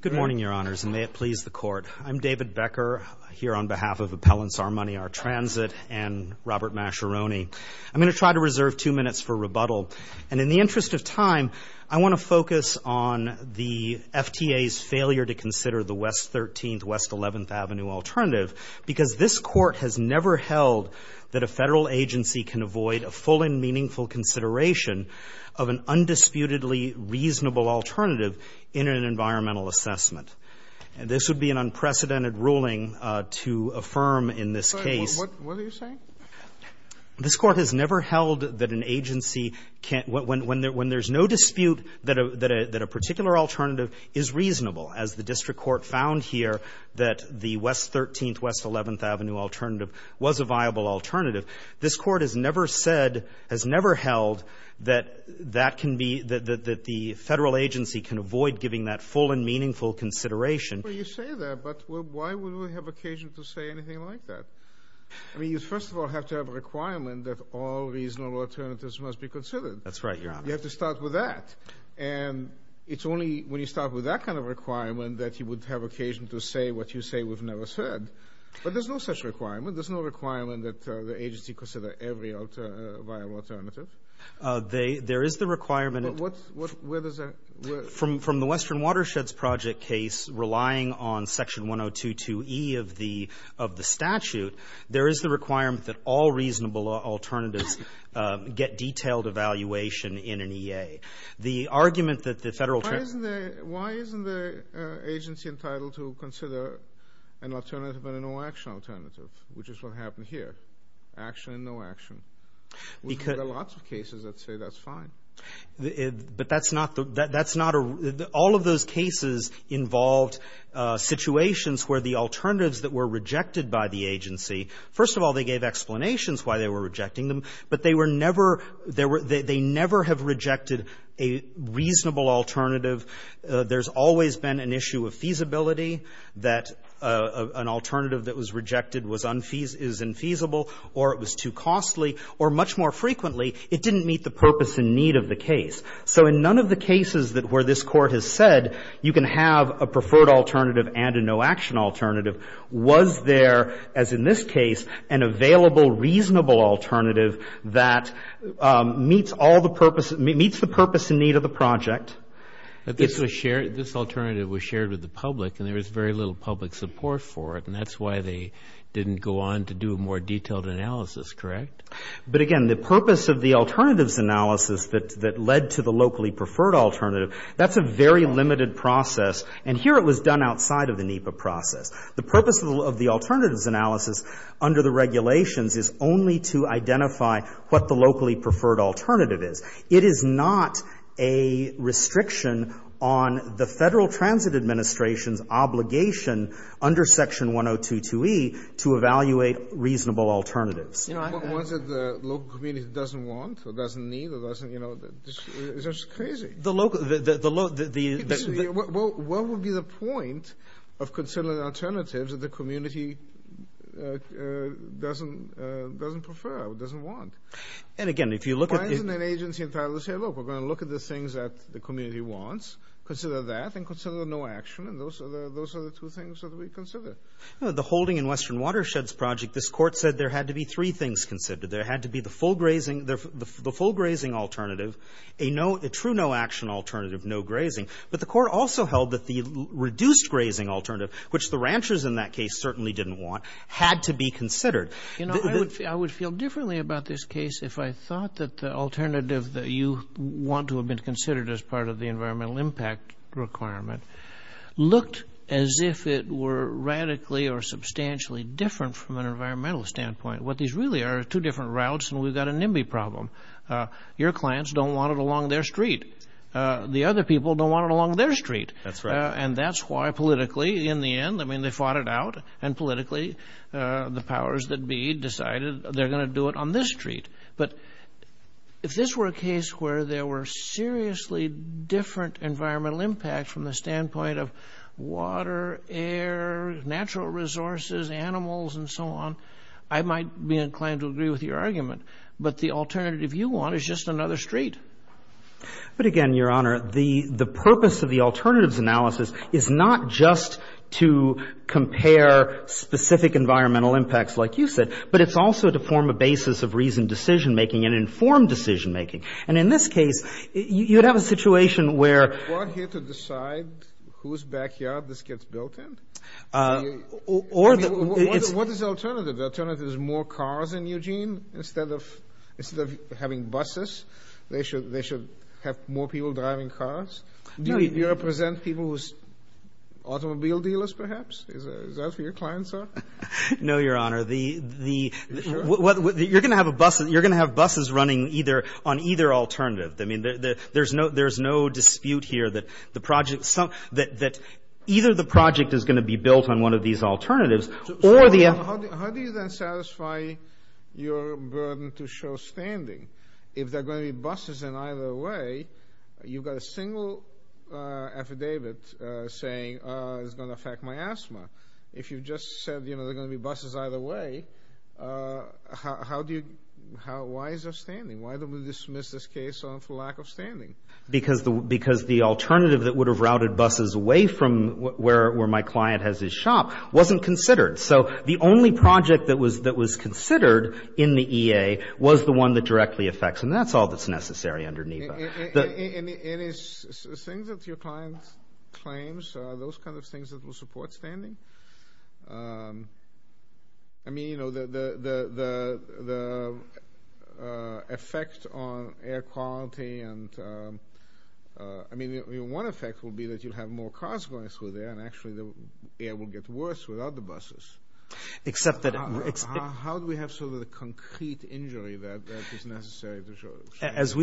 Good morning, Your Honors, and may it please the Court. I'm David Becker here on behalf of Appellants Our Money Our Transit and Robert Mascheroni. I'm going to try to reserve two minutes for rebuttal. And in the interest of time, I want to focus on the FTA's failure to consider the West 13th, West 11th Avenue alternative because this Court has never held that a federal agency can avoid a full and meaningful consideration of an undisputedly reasonable alternative in an environmental assessment. And this would be an unprecedented ruling to affirm in this case. What are you saying? This Court has never held that an agency can't – when there's no dispute that a particular alternative is reasonable, as the district court found here that the West 13th, West 11th Avenue alternative was a viable alternative. This Court has never said, has never held that that can be – that the federal agency can avoid giving that full and meaningful consideration. Well, you say that, but why would we have occasion to say anything like that? I mean, you first of all have to have a requirement that all reasonable alternatives must be considered. That's right, Your Honor. You have to start with that. And it's only when you start with that kind of requirement that you would have occasion to say what you say we've never said. But there's no such requirement. There's no requirement that the agency consider every viable alternative. There is the requirement. But where does that – From the Western Watersheds Project case, relying on Section 102.2e of the statute, there is the requirement that all reasonable alternatives get detailed evaluation in an EA. The argument that the federal – Why isn't the – why isn't the agency entitled to consider an alternative and a no-action alternative, which is what happened here, action and no action? Because – There are lots of cases that say that's fine. But that's not – that's not a – all of those cases involved situations where the alternatives that were rejected by the agency, first of all, they gave explanations why they were rejecting them, but they were never – they never have rejected a reasonable alternative. There's always been an issue of feasibility that an alternative that was rejected was unfeasible – is infeasible or it was too costly or, much more frequently, it didn't meet the purpose and need of the case. So in none of the cases that – where this Court has said you can have a preferred alternative and a no-action alternative, was there, as in this case, an available, reasonable alternative that meets all the purpose – meets the purpose and need of the project? But this was shared – this alternative was shared with the public, and there was very little public support for it, and that's why they didn't go on to do a more detailed analysis, correct? But, again, the purpose of the alternatives analysis that led to the locally preferred alternative, that's a very limited process. And here it was done outside of the NEPA process. The purpose of the alternatives analysis under the regulations is only to identify what the locally preferred alternative is. It is not a restriction on the Federal Transit Administration's obligation under Section 1022e to evaluate reasonable alternatives. You know, I – What is it the local community doesn't want or doesn't need or doesn't – you know, it's just crazy. The local – the – the – What would be the point of considering alternatives that the community doesn't prefer or doesn't want? And, again, if you look at – Why isn't an agency entitled to say, look, we're going to look at the things that the community wants, consider that, and consider the no-action, and those are the two things that we consider? The holding in western watersheds project, this court said there had to be three things considered. There had to be the full grazing – the full grazing alternative, a true no-action alternative, no grazing, but the court also held that the reduced grazing alternative, which the ranchers in that case certainly didn't want, had to be considered. You know, I would – I would feel differently about this case if I thought that the alternative that you want to have been considered as part of the environmental impact requirement looked as if it were radically or substantially different from an environmental standpoint. What these really are are two different routes, and we've got a NIMBY problem. Your clients don't want it along their street. The other people don't want it along their street. That's right. And that's why politically, in the end, I mean, they fought it out, and politically the powers that be decided they're going to do it on this street. But if this were a case where there were seriously different environmental impacts from the standpoint of water, air, natural resources, animals, and so on, I might be inclined to agree with your argument. But the alternative you want is just another street. But, again, Your Honor, the purpose of the alternatives analysis is not just to compare specific environmental impacts like you said, but it's also to form a basis of reasoned decision-making and informed decision-making. And in this case, you'd have a situation where – You're here to decide whose backyard this gets built in? Or the – What is the alternative? The alternative is more cars in Eugene instead of – instead of having buses? They should have more people driving cars? Do you represent people who's automobile dealers, perhaps? Is that who your clients are? No, Your Honor. The – You're going to have buses running either – on either alternative. I mean, there's no dispute here that the project – that either the project is going to be built on one of these alternatives or the – How do you then satisfy your burden to show standing if there are going to be buses in either way? You've got a single affidavit saying it's going to affect my asthma. If you just said, you know, there are going to be buses either way, how do you – Why is there standing? Why did we dismiss this case for lack of standing? Because the alternative that would have routed buses away from where my client has his shop wasn't considered. So the only project that was considered in the EA was the one that directly affects, and that's all that's necessary under NEVA. And is things that your client claims, those kind of things that will support standing? I mean, you know, the effect on air quality and – I mean, one effect will be that you'll have more cars going through there, and actually the air will get worse without the buses. Except that – How do we have sort of the concrete injury that is necessary to show standing? As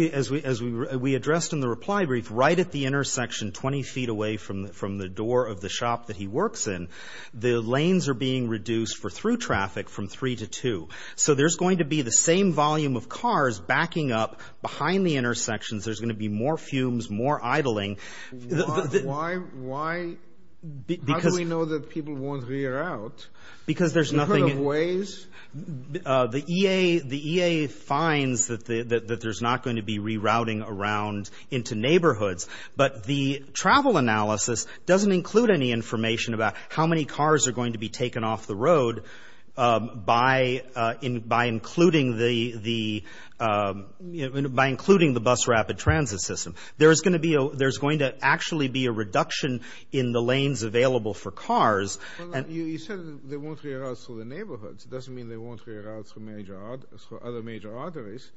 we addressed in the reply brief, right at the intersection 20 feet away from the door of the shop that he works in, the lanes are being reduced for through traffic from three to two. So there's going to be the same volume of cars backing up behind the intersections. There's going to be more fumes, more idling. Why – how do we know that people won't reroute? Because there's nothing – In what ways? The EA finds that there's not going to be rerouting around into neighborhoods, but the travel analysis doesn't include any information about how many cars are going to be taken off the road by including the bus rapid transit system. There is going to be a – there's going to actually be a reduction in the lanes available for cars. Well, you said they won't reroute through the neighborhoods. It doesn't mean they won't reroute through major – through other major arteries.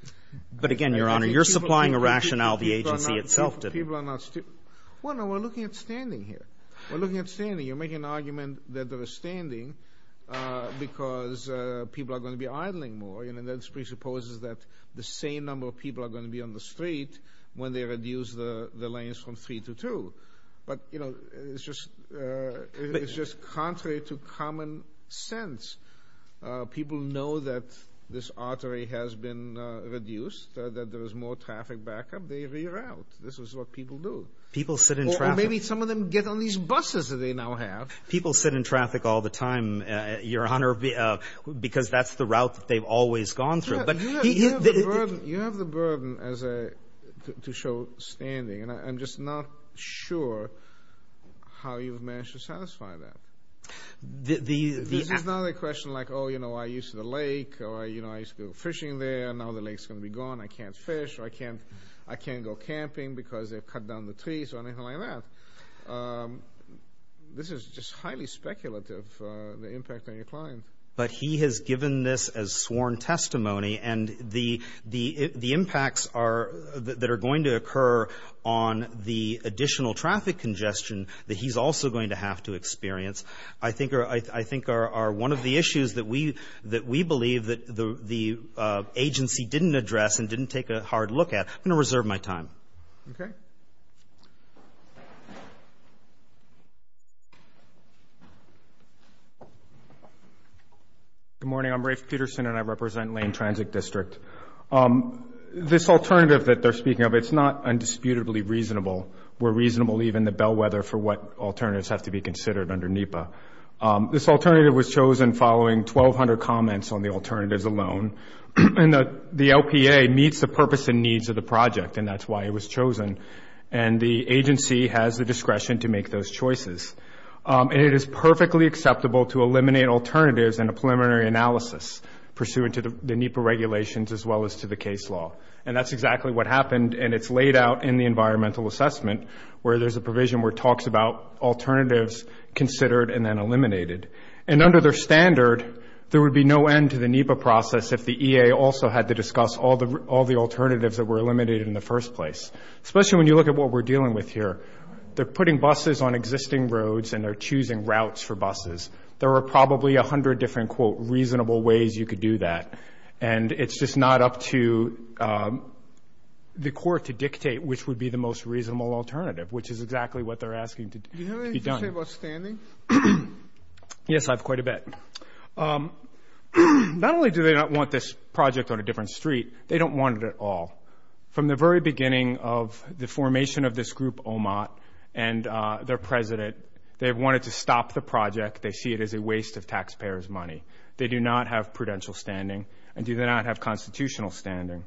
But again, Your Honor, you're supplying a rationale the agency itself didn't. People are not – people are not – well, no, we're looking at standing here. We're looking at standing. You're making an argument that there is standing because people are going to be idling more, and this presupposes that the same number of people are going to be on the street when they reduce the lanes from three to two. But, you know, it's just contrary to common sense. People know that this artery has been reduced, that there is more traffic back up. They reroute. This is what people do. People sit in traffic. Or maybe some of them get on these buses that they now have. People sit in traffic all the time, Your Honor, because that's the route that they've always gone through. You have the burden as a – to show standing, and I'm just not sure how you've managed to satisfy that. This is not a question like, oh, you know, I used to go to the lake, or, you know, I used to go fishing there. Now the lake is going to be gone. I can't fish or I can't go camping because they've cut down the trees or anything like that. This is just highly speculative, the impact on your client. But he has given this as sworn testimony, and the impacts that are going to occur on the additional traffic congestion that he's also going to have to experience I think are one of the issues that we believe that the agency didn't address and didn't take a hard look at. I'm going to reserve my time. Okay. Thank you. Good morning. I'm Rafe Peterson, and I represent Lane Transit District. This alternative that they're speaking of, it's not undisputably reasonable. We're reasonable even the bellwether for what alternatives have to be considered under NEPA. This alternative was chosen following 1,200 comments on the alternatives alone. The LPA meets the purpose and needs of the project, and that's why it was chosen. And the agency has the discretion to make those choices. And it is perfectly acceptable to eliminate alternatives in a preliminary analysis pursuant to the NEPA regulations as well as to the case law. And that's exactly what happened, and it's laid out in the environmental assessment where there's a provision where it talks about alternatives considered and then eliminated. And under their standard, there would be no end to the NEPA process if the EA also had to discuss all the alternatives that were eliminated in the first place, especially when you look at what we're dealing with here. They're putting buses on existing roads, and they're choosing routes for buses. There are probably 100 different, quote, reasonable ways you could do that, and it's just not up to the court to dictate which would be the most reasonable alternative, which is exactly what they're asking to be done. Do you have a question about standing? Yes, I have quite a bit. Not only do they not want this project on a different street, they don't want it at all. From the very beginning of the formation of this group, OMOT, and their president, they wanted to stop the project. They see it as a waste of taxpayers' money. They do not have prudential standing, and do not have constitutional standing.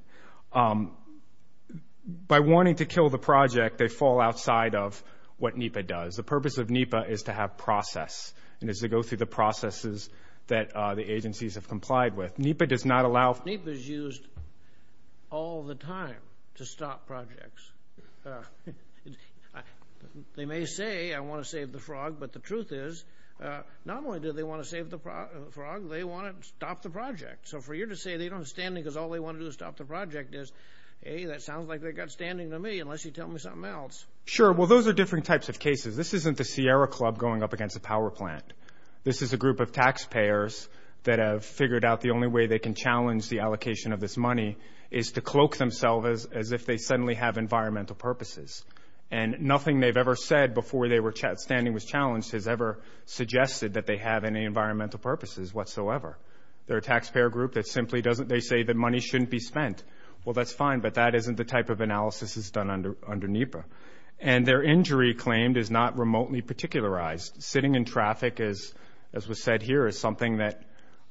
By wanting to kill the project, they fall outside of what NEPA does. The purpose of NEPA is to have process and is to go through the processes that the agencies have complied with. NEPA does not allow. NEPA is used all the time to stop projects. They may say, I want to save the frog, but the truth is not only do they want to save the frog, they want to stop the project. So for you to say they don't have standing because all they want to do is stop the project is, hey, that sounds like they've got standing to me unless you tell me something else. Sure. Well, those are different types of cases. This isn't the Sierra Club going up against a power plant. This is a group of taxpayers that have figured out the only way they can challenge the allocation of this money is to cloak themselves as if they suddenly have environmental purposes. And nothing they've ever said before standing was challenged has ever suggested that they have any environmental purposes whatsoever. They're a taxpayer group that simply doesn't, they say that money shouldn't be spent. Well, that's fine, but that isn't the type of analysis that's done under NEPA. And their injury claimed is not remotely particularized. Sitting in traffic, as was said here, is something that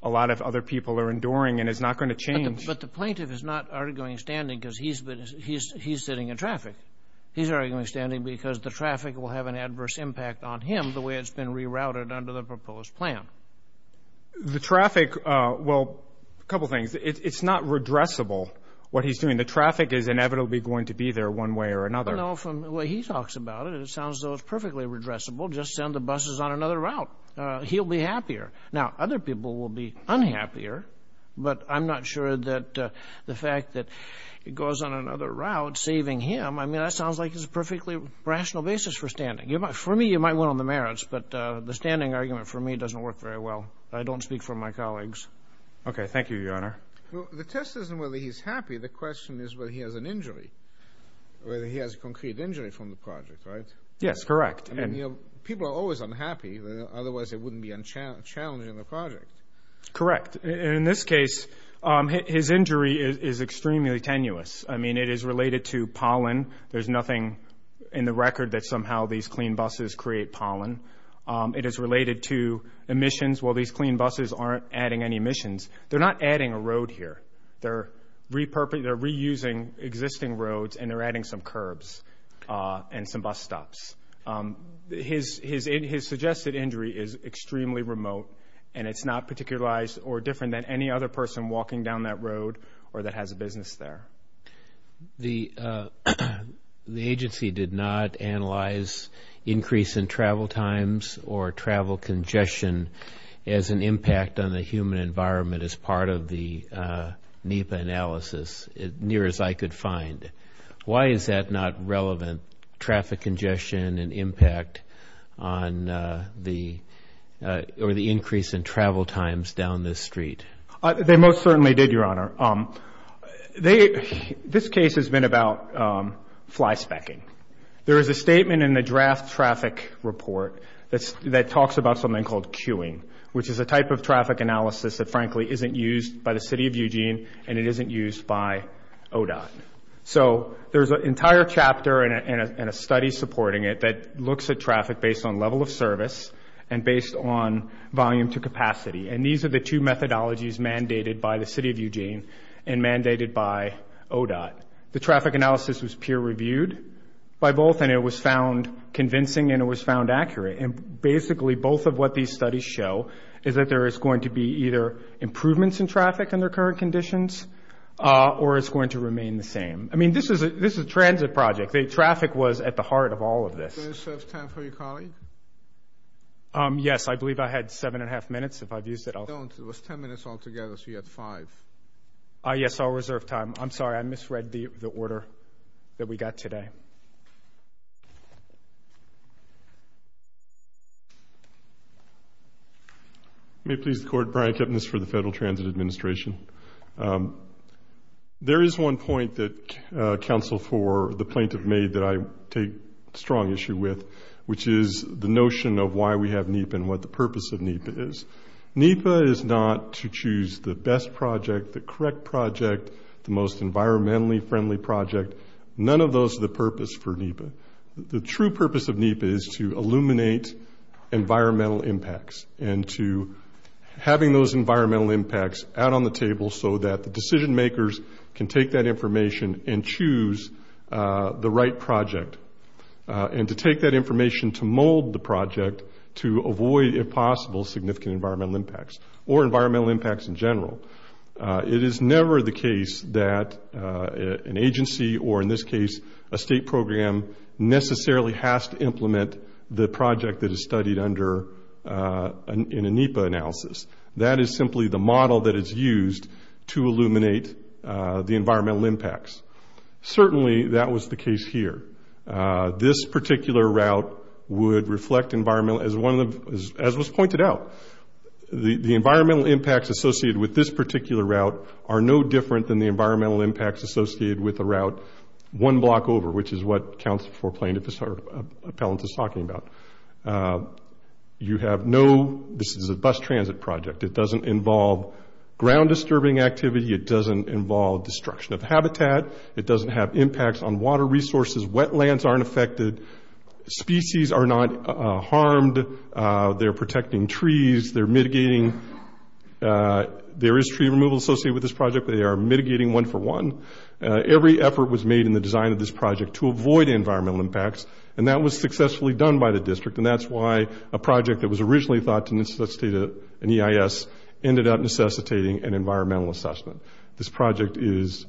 a lot of other people are enduring and is not going to change. But the plaintiff is not arguing standing because he's sitting in traffic. He's arguing standing because the traffic will have an adverse impact on him the way it's been rerouted under the proposed plan. The traffic, well, a couple things. It's not redressable, what he's doing. The traffic is inevitably going to be there one way or another. I don't know from the way he talks about it. It sounds as though it's perfectly redressable. Just send the buses on another route. He'll be happier. Now, other people will be unhappier, but I'm not sure that the fact that it goes on another route saving him, I mean, that sounds like it's a perfectly rational basis for standing. For me, you might win on the merits, but the standing argument for me doesn't work very well. I don't speak for my colleagues. Okay, thank you, Your Honor. The test isn't whether he's happy. The question is whether he has an injury, whether he has a concrete injury from the project, right? Yes, correct. People are always unhappy, otherwise they wouldn't be challenging the project. Correct. In this case, his injury is extremely tenuous. I mean, it is related to pollen. There's nothing in the record that somehow these clean buses create pollen. It is related to emissions. Well, these clean buses aren't adding any emissions. They're not adding a road here. They're reusing existing roads, and they're adding some curbs and some bus stops. His suggested injury is extremely remote, and it's not particularized or different than any other person walking down that road or that has a business there. The agency did not analyze increase in travel times or travel congestion as an impact on the human environment as part of the NEPA analysis, near as I could find. Why is that not relevant, traffic congestion and impact on the increase in travel times down the street? They most certainly did, Your Honor. This case has been about flyspecking. There is a statement in the draft traffic report that talks about something called queuing, which is a type of traffic analysis that, frankly, isn't used by the City of Eugene, and it isn't used by ODOT. So there's an entire chapter and a study supporting it that looks at traffic based on level of service and based on volume to capacity, and these are the two methodologies mandated by the City of Eugene and mandated by ODOT. The traffic analysis was peer-reviewed by both, and it was found convincing, and it was found accurate. And basically, both of what these studies show is that there is going to be either improvements in traffic under current conditions or it's going to remain the same. I mean, this is a transit project. Traffic was at the heart of all of this. Do you reserve time for your colleague? Yes, I believe I had seven and a half minutes. If I've used it, I'll... No, it was ten minutes altogether, so you had five. Yes, I'll reserve time. I'm sorry, I misread the order that we got today. May it please the Court, Brian Kipnis for the Federal Transit Administration. There is one point that counsel for the plaintiff made that I take strong issue with, which is the notion of why we have NEPA and what the purpose of NEPA is. NEPA is not to choose the best project, the correct project, the most environmentally friendly project. None of those are the purpose for NEPA. The true purpose of NEPA is to illuminate environmental impacts and to having those environmental impacts out on the table so that the decision-makers can take that information and choose the right project and to take that information to mold the project to avoid, if possible, significant environmental impacts or environmental impacts in general. It is never the case that an agency or, in this case, a state program, necessarily has to implement the project that is studied in a NEPA analysis. That is simply the model that is used to illuminate the environmental impacts. Certainly that was the case here. This particular route would reflect environmental, as was pointed out, the environmental impacts associated with this particular route are no different than the environmental impacts associated with a route one block over, which is what counsel for plaintiff's appellant is talking about. You have no, this is a bus transit project. It doesn't involve ground-disturbing activity. It doesn't involve destruction of habitat. It doesn't have impacts on water resources. Wetlands aren't affected. Species are not harmed. They're protecting trees. They're mitigating. There is tree removal associated with this project, but they are mitigating one for one. Every effort was made in the design of this project to avoid environmental impacts, and that was successfully done by the district, and that's why a project that was originally thought to necessitate an EIS ended up necessitating an environmental assessment. This project is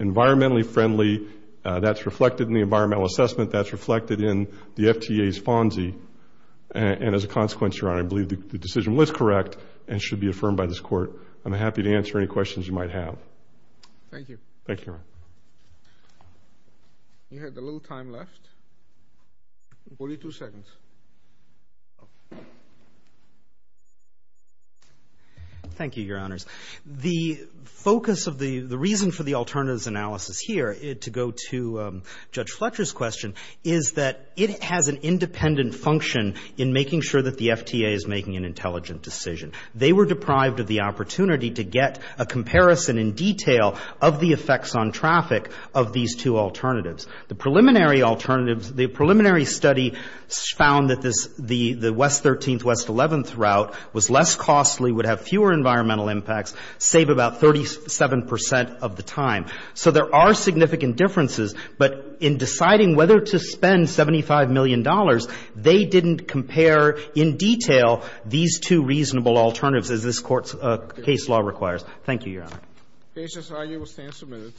environmentally friendly. That's reflected in the environmental assessment. That's reflected in the FTA's FONSI, and as a consequence, Your Honor, I believe the decision was correct and should be affirmed by this court. I'm happy to answer any questions you might have. Thank you. Thank you, Your Honor. We have a little time left. Forty-two seconds. Thank you, Your Honors. The focus of the reason for the alternatives analysis here, to go to Judge Fletcher's question, is that it has an independent function in making sure that the FTA is making an intelligent decision. They were deprived of the opportunity to get a comparison in detail of the effects on traffic of these two alternatives. The preliminary alternatives, the preliminary study found that the West 13th, West 11th route was less costly, would have fewer environmental impacts, save about 37 percent of the time. So there are significant differences, but in deciding whether to spend $75 million, they didn't compare in detail these two reasonable alternatives as this Court's case law requires. Thank you, Your Honor. The case is argued and will stand submitted.